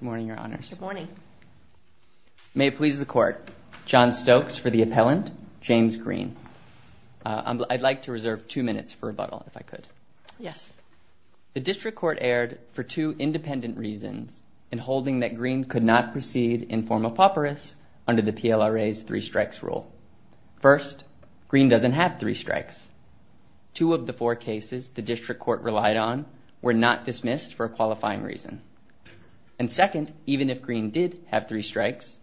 Good morning, Your Honors. Good morning. May it please the Court. John Stokes for the appellant, James Green. I'd like to reserve two minutes for rebuttal, if I could. Yes. The District Court erred for two independent reasons in holding that Green could not proceed in form of pauperus under the PLRA's three strikes rule. First, Green doesn't have three strikes. Two of the four cases the District Court relied on were not dismissed for a qualifying reason. And second, even if Green did have three strikes,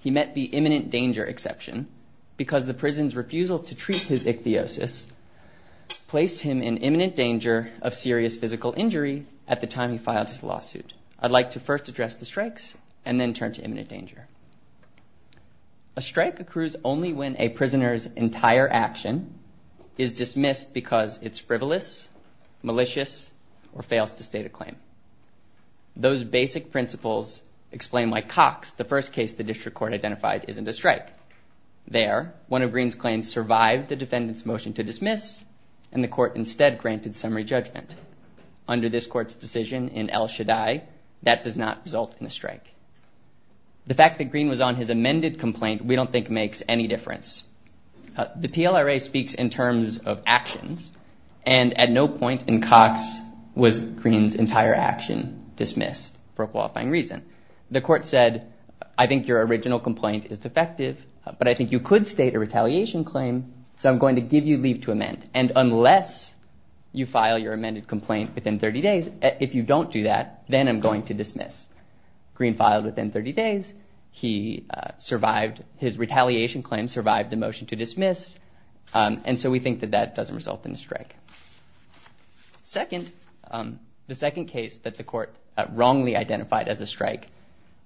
he met the imminent danger exception because the prison's refusal to treat his ichthyosis placed him in imminent danger of serious physical injury at the time he filed his lawsuit. I'd like to first address the strikes and then turn to imminent danger. A strike accrues only when a prisoner's entire action is dismissed because it's frivolous, malicious, or fails to state a claim. Those basic principles explain why Cox, the first case the District Court identified, isn't a strike. There, one of Green's claims survived the defendant's motion to dismiss, and the Court instead granted summary judgment. Under this Court's decision in El Shaddai, that does not result in a strike. The fact that Green was on his amended complaint we don't think makes any difference. The PLRA speaks in terms of actions, and at no point in Cox was Green's entire action dismissed for a qualifying reason. The Court said, I think your original complaint is defective, but I think you could state a retaliation claim, so I'm going to give you leave to amend. And unless you file your amended complaint within 30 days, if you don't do that, then I'm going to dismiss. Green filed within 30 days. His retaliation claim survived the motion to dismiss, and so we think that that doesn't result in a strike. The second case that the Court wrongly identified as a strike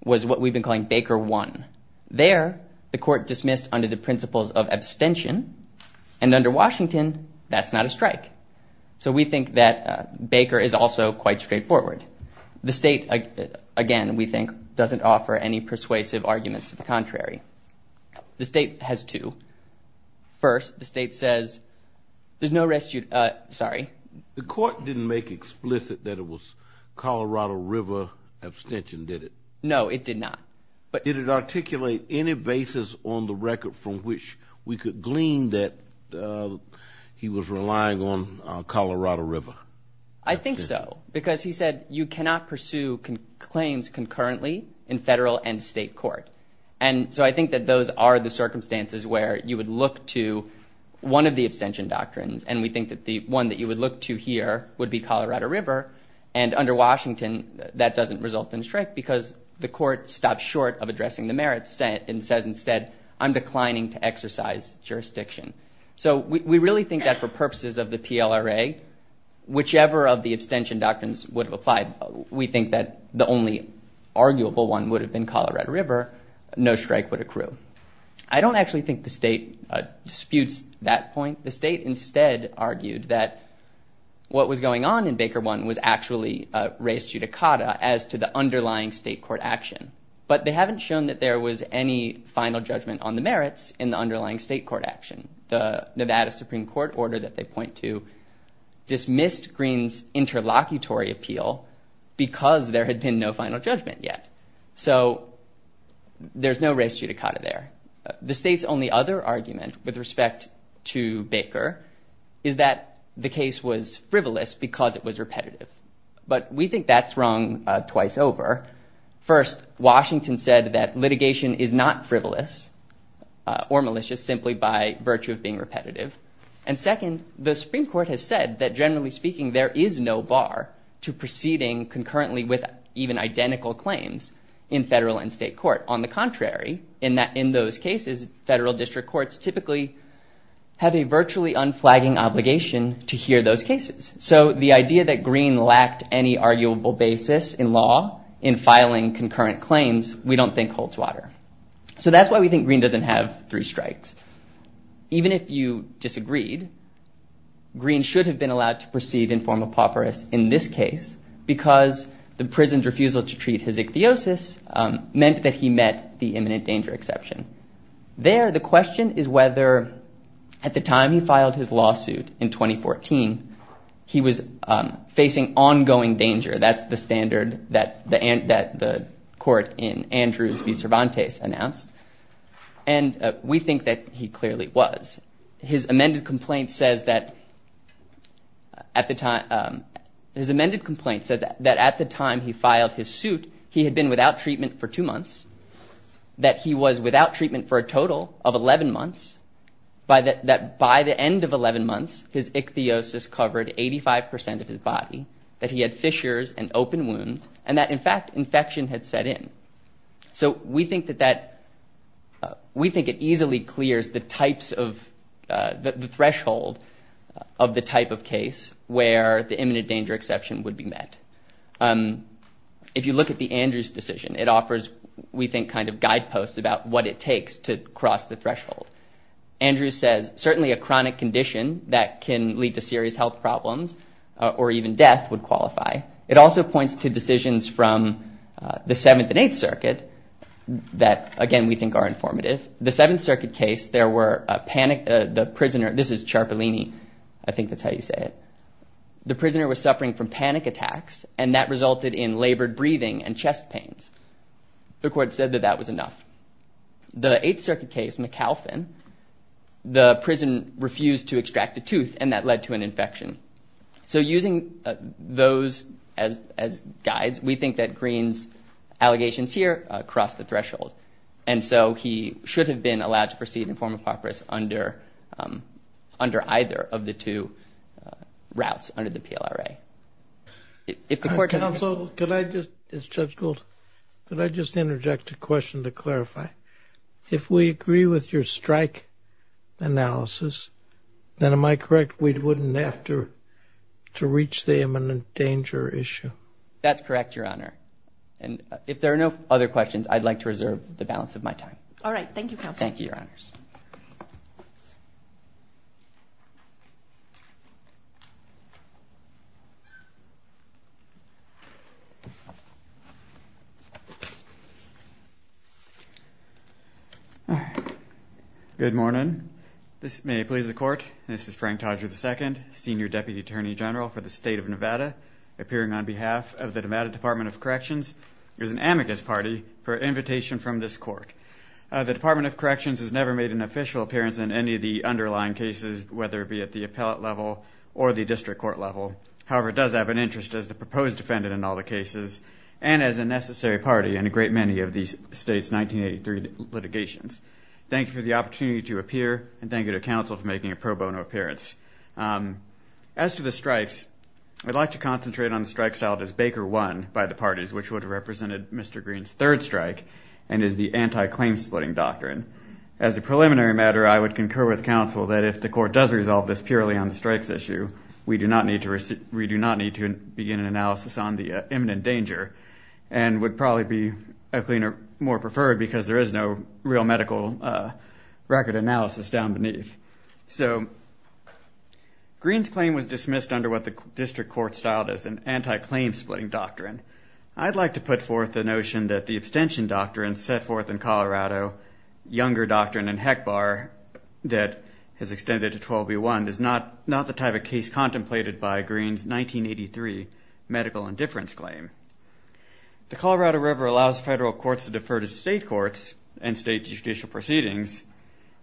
was what we've been calling Baker 1. There, the Court dismissed under the principles of abstention, and under Washington, that's not a strike. So we think that Baker is also quite straightforward. The State, again, we think, doesn't offer any persuasive arguments to the contrary. The State has two. First, the State says there's no restitute. Sorry. The Court didn't make explicit that it was Colorado River abstention, did it? No, it did not. Did it articulate any basis on the record from which we could glean that he was relying on Colorado River? I think so, because he said you cannot pursue claims concurrently in federal and state court, and so I think that those are the circumstances where you would look to one of the abstention doctrines, and we think that the one that you would look to here would be Colorado River, and under Washington, that doesn't result in a strike because the Court stops short of addressing the merits and says instead, I'm declining to exercise jurisdiction. So we really think that for purposes of the PLRA, whichever of the abstention doctrines would have applied, we think that the only arguable one would have been Colorado River. No strike would accrue. I don't actually think the State disputes that point. The State instead argued that what was going on in Baker 1 was actually a res judicata as to the underlying state court action, but they haven't shown that there was any final judgment on the merits in the underlying state court action. The Nevada Supreme Court order that they point to dismissed Greene's interlocutory appeal because there had been no final judgment yet. So there's no res judicata there. The State's only other argument with respect to Baker is that the case was frivolous because it was repetitive, but we think that's wrong twice over. First, Washington said that litigation is not frivolous or malicious simply by virtue of being repetitive. And second, the Supreme Court has said that, generally speaking, there is no bar to proceeding concurrently with even identical claims in federal and state court. On the contrary, in those cases, federal district courts typically have a virtually unflagging obligation to hear those cases. So the idea that Greene lacked any arguable basis in law in filing concurrent claims, we don't think holds water. So that's why we think Greene doesn't have three strikes. Even if you disagreed, Greene should have been allowed to proceed in form of pauperis in this case because the prison's refusal to treat his ichthyosis meant that he met the imminent danger exception. There, the question is whether, at the time he filed his lawsuit in 2014, he was facing ongoing danger. That's the standard that the court in Andrews v. Cervantes announced. And we think that he clearly was. His amended complaint says that at the time... His amended complaint says that at the time he filed his suit, he had been without treatment for two months, that he was without treatment for a total of 11 months, that by the end of 11 months, his ichthyosis covered 85% of his body, that he had fissures and open wounds, and that, in fact, infection had set in. So we think that that... We think it easily clears the types of... the threshold of the type of case where the imminent danger exception would be met. If you look at the Andrews decision, it offers, we think, kind of guideposts about what it takes to cross the threshold. Andrews says, certainly a chronic condition that can lead to serious health problems or even death would qualify. It also points to decisions from the Seventh and Eighth Circuit that, again, we think are informative. The Seventh Circuit case, there were panic... The prisoner... This is Ciarpolini. I think that's how you say it. The prisoner was suffering from panic attacks, and that resulted in labored breathing and chest pains. The court said that that was enough. The Eighth Circuit case, McAlphin, the prisoner refused to extract a tooth, and that led to an infection. So using those as guides, we think that Greene's allegations here cross the threshold. And so he should have been allowed to proceed in form of papyrus under either of the two routes under the PLRA. If the court... Counsel, could I just... It's Judge Gould. Could I just interject a question to clarify? If we agree with your strike analysis, then am I correct we wouldn't have to reach the imminent danger issue? That's correct, Your Honor. And if there are no other questions, I'd like to reserve the balance of my time. All right. Thank you, Counsel. Thank you, Your Honors. All right. Good morning. May it please the Court, this is Frank Todger II, Senior Deputy Attorney General for the State of Nevada, appearing on behalf of the Nevada Department of Corrections as an amicus party for invitation from this court. The Department of Corrections has never made an official appearance in any of the underlying cases, whether it be at the appellate level or the district court level. However, it does have an interest as the proposed defendant in all the cases and as a necessary party in a great many of the state's 1983 litigations. Thank you for the opportunity to appear, and thank you to Counsel for making a pro bono appearance. As to the strikes, I'd like to concentrate on the strike styled as Baker I by the parties, which would have represented Mr. Green's third strike and is the anti-claim splitting doctrine. As a preliminary matter, I would concur with Counsel that if the court does resolve this purely on the strikes issue, we do not need to begin an analysis on the imminent danger and would probably be a cleaner, more preferred, because there is no real medical record analysis down beneath. So Green's claim was dismissed under what the district court styled as an anti-claim splitting doctrine. I'd like to put forth the notion that the abstention doctrine set forth in Colorado, younger doctrine in HECBAR that has extended to 12b1, is not the type of case contemplated by Green's 1983 medical indifference claim. The Colorado River allows federal courts to defer to state courts and state judicial proceedings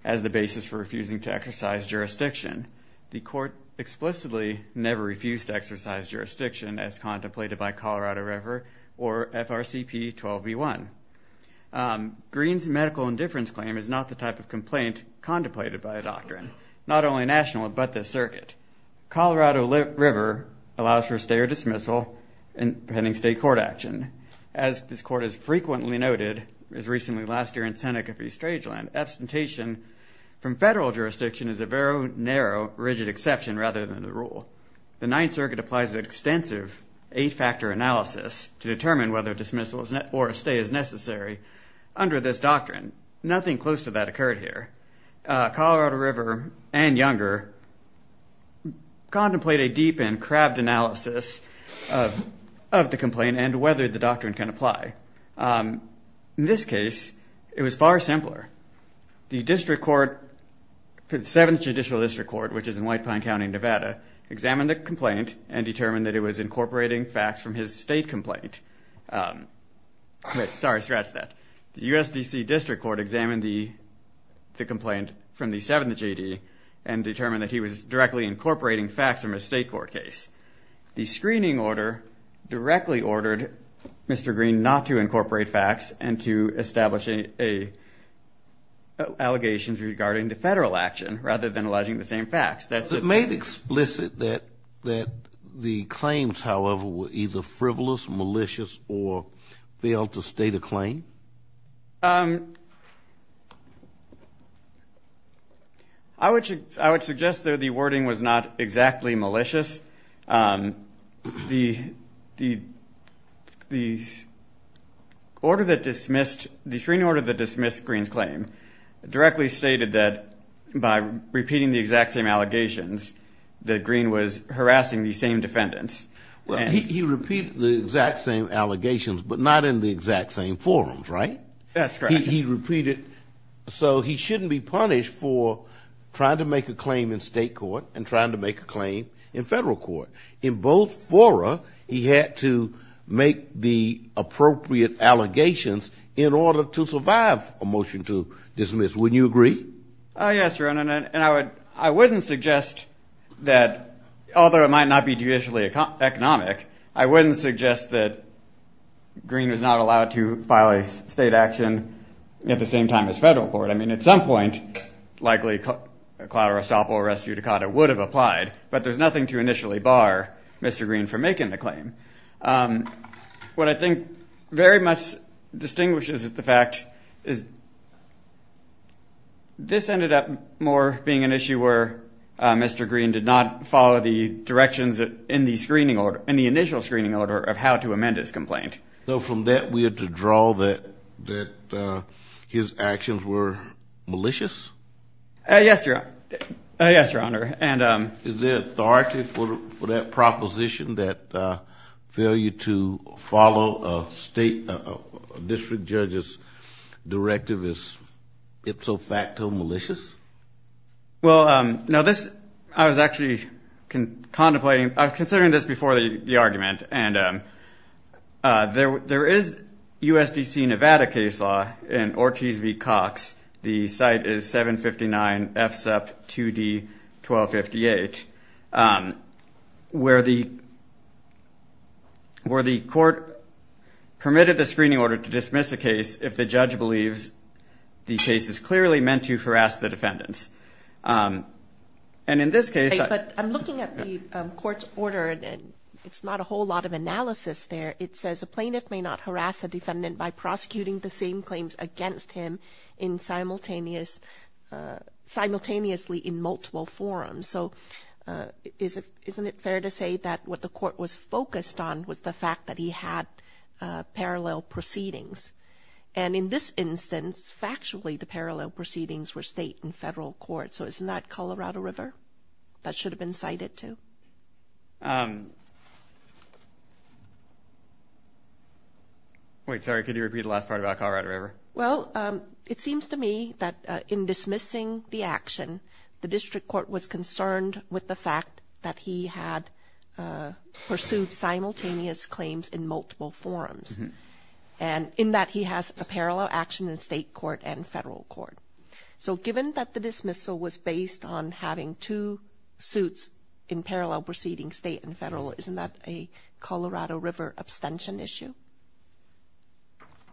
as the basis for refusing to exercise jurisdiction. The court explicitly never refused to exercise jurisdiction as contemplated by Colorado River or FRCP 12b1. Green's medical indifference claim is not the type of complaint contemplated by a doctrine, not only national, but this circuit. Colorado River allows for stay or dismissal in pending state court action. As this court has frequently noted, as recently last year in Seneca v. Strangeland, abstention from federal jurisdiction is a very narrow, rigid exception rather than the rule. The Ninth Circuit applies extensive eight-factor analysis to determine whether dismissal or a stay is necessary under this doctrine. Nothing close to that occurred here. Colorado River and Younger contemplate a deep and crabbed analysis of the complaint and whether the doctrine can apply. In this case, it was far simpler. The district court, the Seventh Judicial District Court, which is in White Pine County, Nevada, examined the complaint and determined that it was incorporating facts from his state complaint. Sorry, scratch that. The U.S. D.C. District Court examined the complaint from the Seventh J.D. and determined that he was directly incorporating facts from his state court case. The screening order directly ordered Mr. Green not to incorporate facts and to establish allegations regarding the federal action rather than alleging the same facts. It's made explicit that the claims, however, were either frivolous, malicious, or failed to state a claim. I would suggest that the wording was not exactly malicious. The order that dismissed, the screening order that dismissed Green's claim directly stated that by repeating the exact same allegations that Green was harassing the same defendants. Well, he repeated the exact same allegations, but not in the exact same forums, right? That's correct. He repeated. So he shouldn't be punished for trying to make a claim in state court and trying to make a claim in federal court. In both fora, he had to make the appropriate allegations in order to survive a motion to dismiss. Wouldn't you agree? Yes, Your Honor. I wouldn't suggest that, although it might not be judicially economic, I wouldn't suggest that Green was not allowed to file a state action at the same time as federal court. I mean, at some point, likely a cloud or estoppel or res judicata would have applied, but there's nothing to initially bar Mr. Green from making the claim. What I think very much distinguishes the fact is this ended up more being an issue where Mr. Green did not follow the directions in the initial screening order of how to amend his complaint. So from that, we had to draw that his actions were malicious? Yes, Your Honor. Is there authority for that proposition that failure to follow a state district judge's directive is ipso facto malicious? Well, no, this I was actually contemplating. I was considering this before the argument, and there is USDC Nevada case law in Ortiz v. Cox. The site is 759 FSEP 2D 1258, where the court permitted the screening order to dismiss a case if the judge believes the case is clearly meant to harass the defendants. And in this case ---- But I'm looking at the court's order, and it's not a whole lot of analysis there. It says a plaintiff may not harass a defendant by prosecuting the same claims against him simultaneously in multiple forms. So isn't it fair to say that what the court was focused on was the fact that he had parallel proceedings? And in this instance, factually, the parallel proceedings were state and federal court. So isn't that Colorado River? That should have been cited too. Wait, sorry, could you repeat the last part about Colorado River? Well, it seems to me that in dismissing the action, the district court was concerned with the fact that he had pursued simultaneous claims in multiple forms, and in that he has a parallel action in state court and federal court. So given that the dismissal was based on having two suits in parallel proceedings, state and federal, isn't that a Colorado River abstention issue?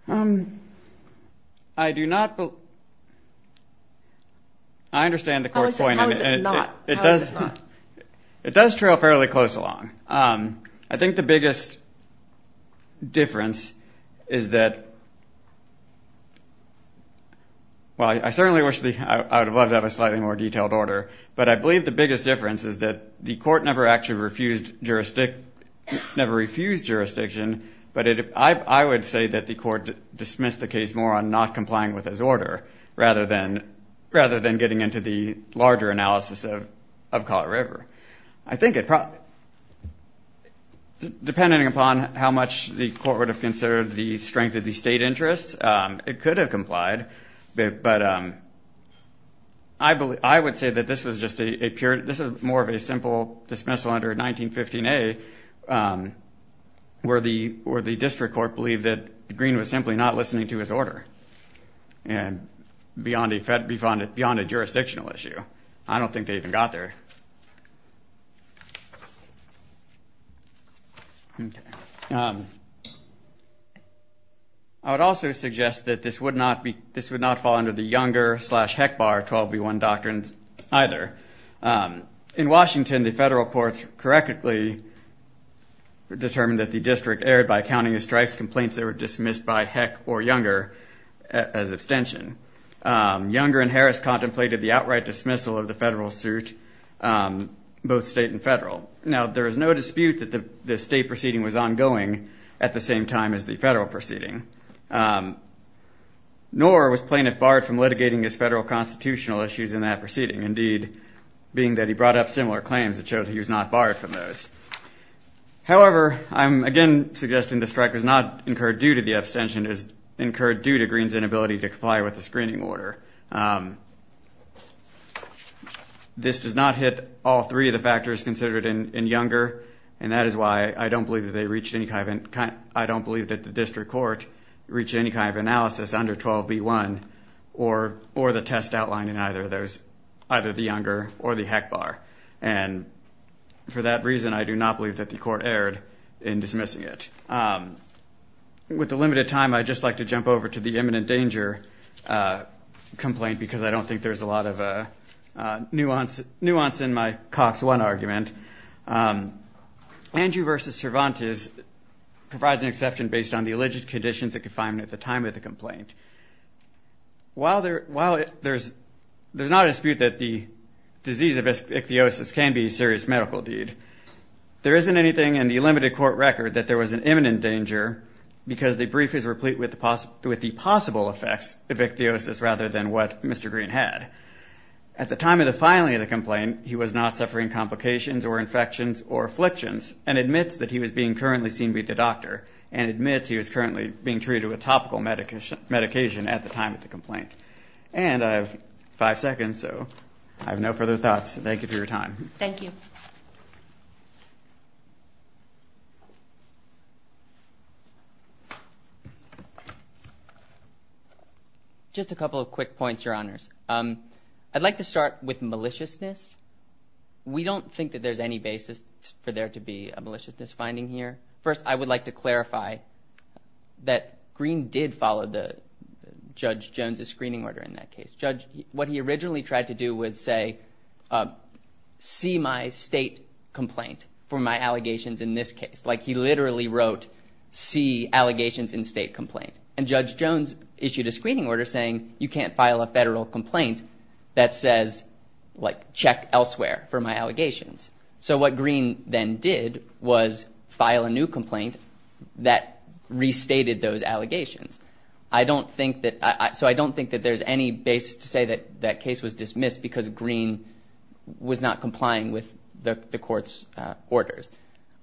I do not believe ---- I understand the court's point. How is it not? It does trail fairly close along. I think the biggest difference is that ---- well, I certainly wish I would have loved to have a slightly more detailed order, but I believe the biggest difference is that the court never actually refused jurisdiction, but I would say that the court dismissed the case more on not complying with his order rather than getting into the larger analysis of Colorado River. I think it probably ---- depending upon how much the court would have considered the strength of the state interest, it could have complied, but I would say that this was just a pure ---- this is more of a simple dismissal under 1915A where the district court believed that Green was simply not listening to his order beyond a jurisdictional issue. So I don't think they even got there. I would also suggest that this would not fall under the Younger slash Heckbar 12B1 doctrines either. In Washington, the federal courts correctly determined that the district erred by counting the strikes complaints that were dismissed by Heck or Younger as abstention. Younger and Harris contemplated the outright dismissal of the federal suit, both state and federal. Now, there is no dispute that the state proceeding was ongoing at the same time as the federal proceeding, nor was Plaintiff barred from litigating his federal constitutional issues in that proceeding, indeed being that he brought up similar claims that showed he was not barred from those. However, I'm again suggesting the strike was not incurred due to the abstention, it was incurred due to Green's inability to comply with the screening order. This does not hit all three of the factors considered in Younger, and that is why I don't believe that the district court reached any kind of analysis under 12B1 or the test outlined in either the Younger or the Heckbar. And for that reason, I do not believe that the court erred in dismissing it. With the limited time, I'd just like to jump over to the imminent danger complaint because I don't think there's a lot of nuance in my Cox 1 argument. Andrew v. Cervantes provides an exception based on the alleged conditions of confinement at the time of the complaint. While there's not a dispute that the disease of ichthyosis can be a serious medical deed, there isn't anything in the limited court record that there was an imminent danger because the brief is replete with the possible effects of ichthyosis rather than what Mr. Green had. At the time of the filing of the complaint, he was not suffering complications or infections or afflictions and admits that he was being currently seen by the doctor and admits he was currently being treated with topical medication at the time of the complaint. And I have five seconds, so I have no further thoughts. Thank you for your time. Thank you. Just a couple of quick points, Your Honors. I'd like to start with maliciousness. We don't think that there's any basis for there to be a maliciousness finding here. First, I would like to clarify that Green did follow Judge Jones's screening order in that case. What he originally tried to do was say, see my state complaint for my allegations in this case. Like he literally wrote, see allegations in state complaint. And Judge Jones issued a screening order saying you can't file a federal complaint that says, like, check elsewhere for my allegations. So what Green then did was file a new complaint that restated those allegations. So I don't think that there's any basis to say that that case was dismissed because Green was not complying with the court's orders.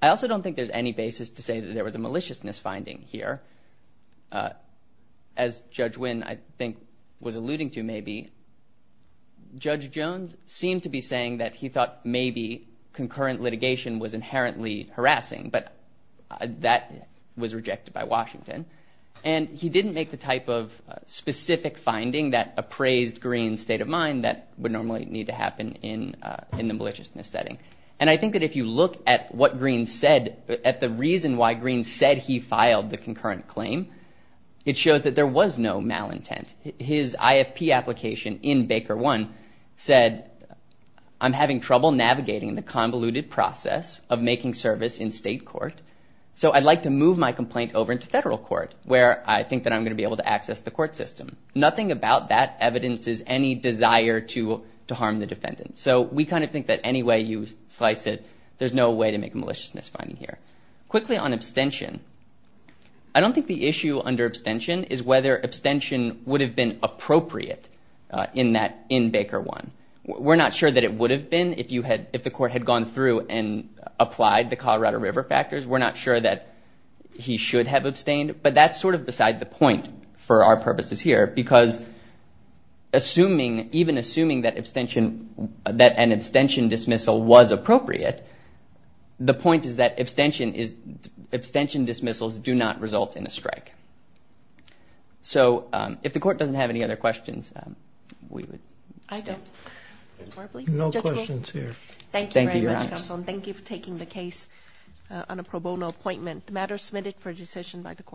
I also don't think there's any basis to say that there was a maliciousness finding here. As Judge Wynn, I think, was alluding to maybe, Judge Jones seemed to be saying that he thought maybe concurrent litigation was inherently harassing, but that was rejected by Washington. And he didn't make the type of specific finding that appraised Green's state of mind that would normally need to happen in the maliciousness setting. And I think that if you look at what Green said, at the reason why Green said he filed the concurrent claim, it shows that there was no malintent. His IFP application in Baker 1 said, I'm having trouble navigating the convoluted process of making service in state court, so I'd like to move my complaint over into federal court where I think that I'm going to be able to access the court system. Nothing about that evidences any desire to harm the defendant. So we kind of think that any way you slice it, there's no way to make a maliciousness finding here. Quickly on abstention, I don't think the issue under abstention is whether abstention would have been appropriate in Baker 1. We're not sure that it would have been if the court had gone through and applied the Colorado River factors. We're not sure that he should have abstained, but that's sort of beside the point for our purposes here, because even assuming that an abstention dismissal was appropriate, the point is that abstention dismissals do not result in a strike. So if the court doesn't have any other questions, we would stay. I don't. No questions here. Thank you very much, counsel, and thank you for taking the case on a pro bono appointment.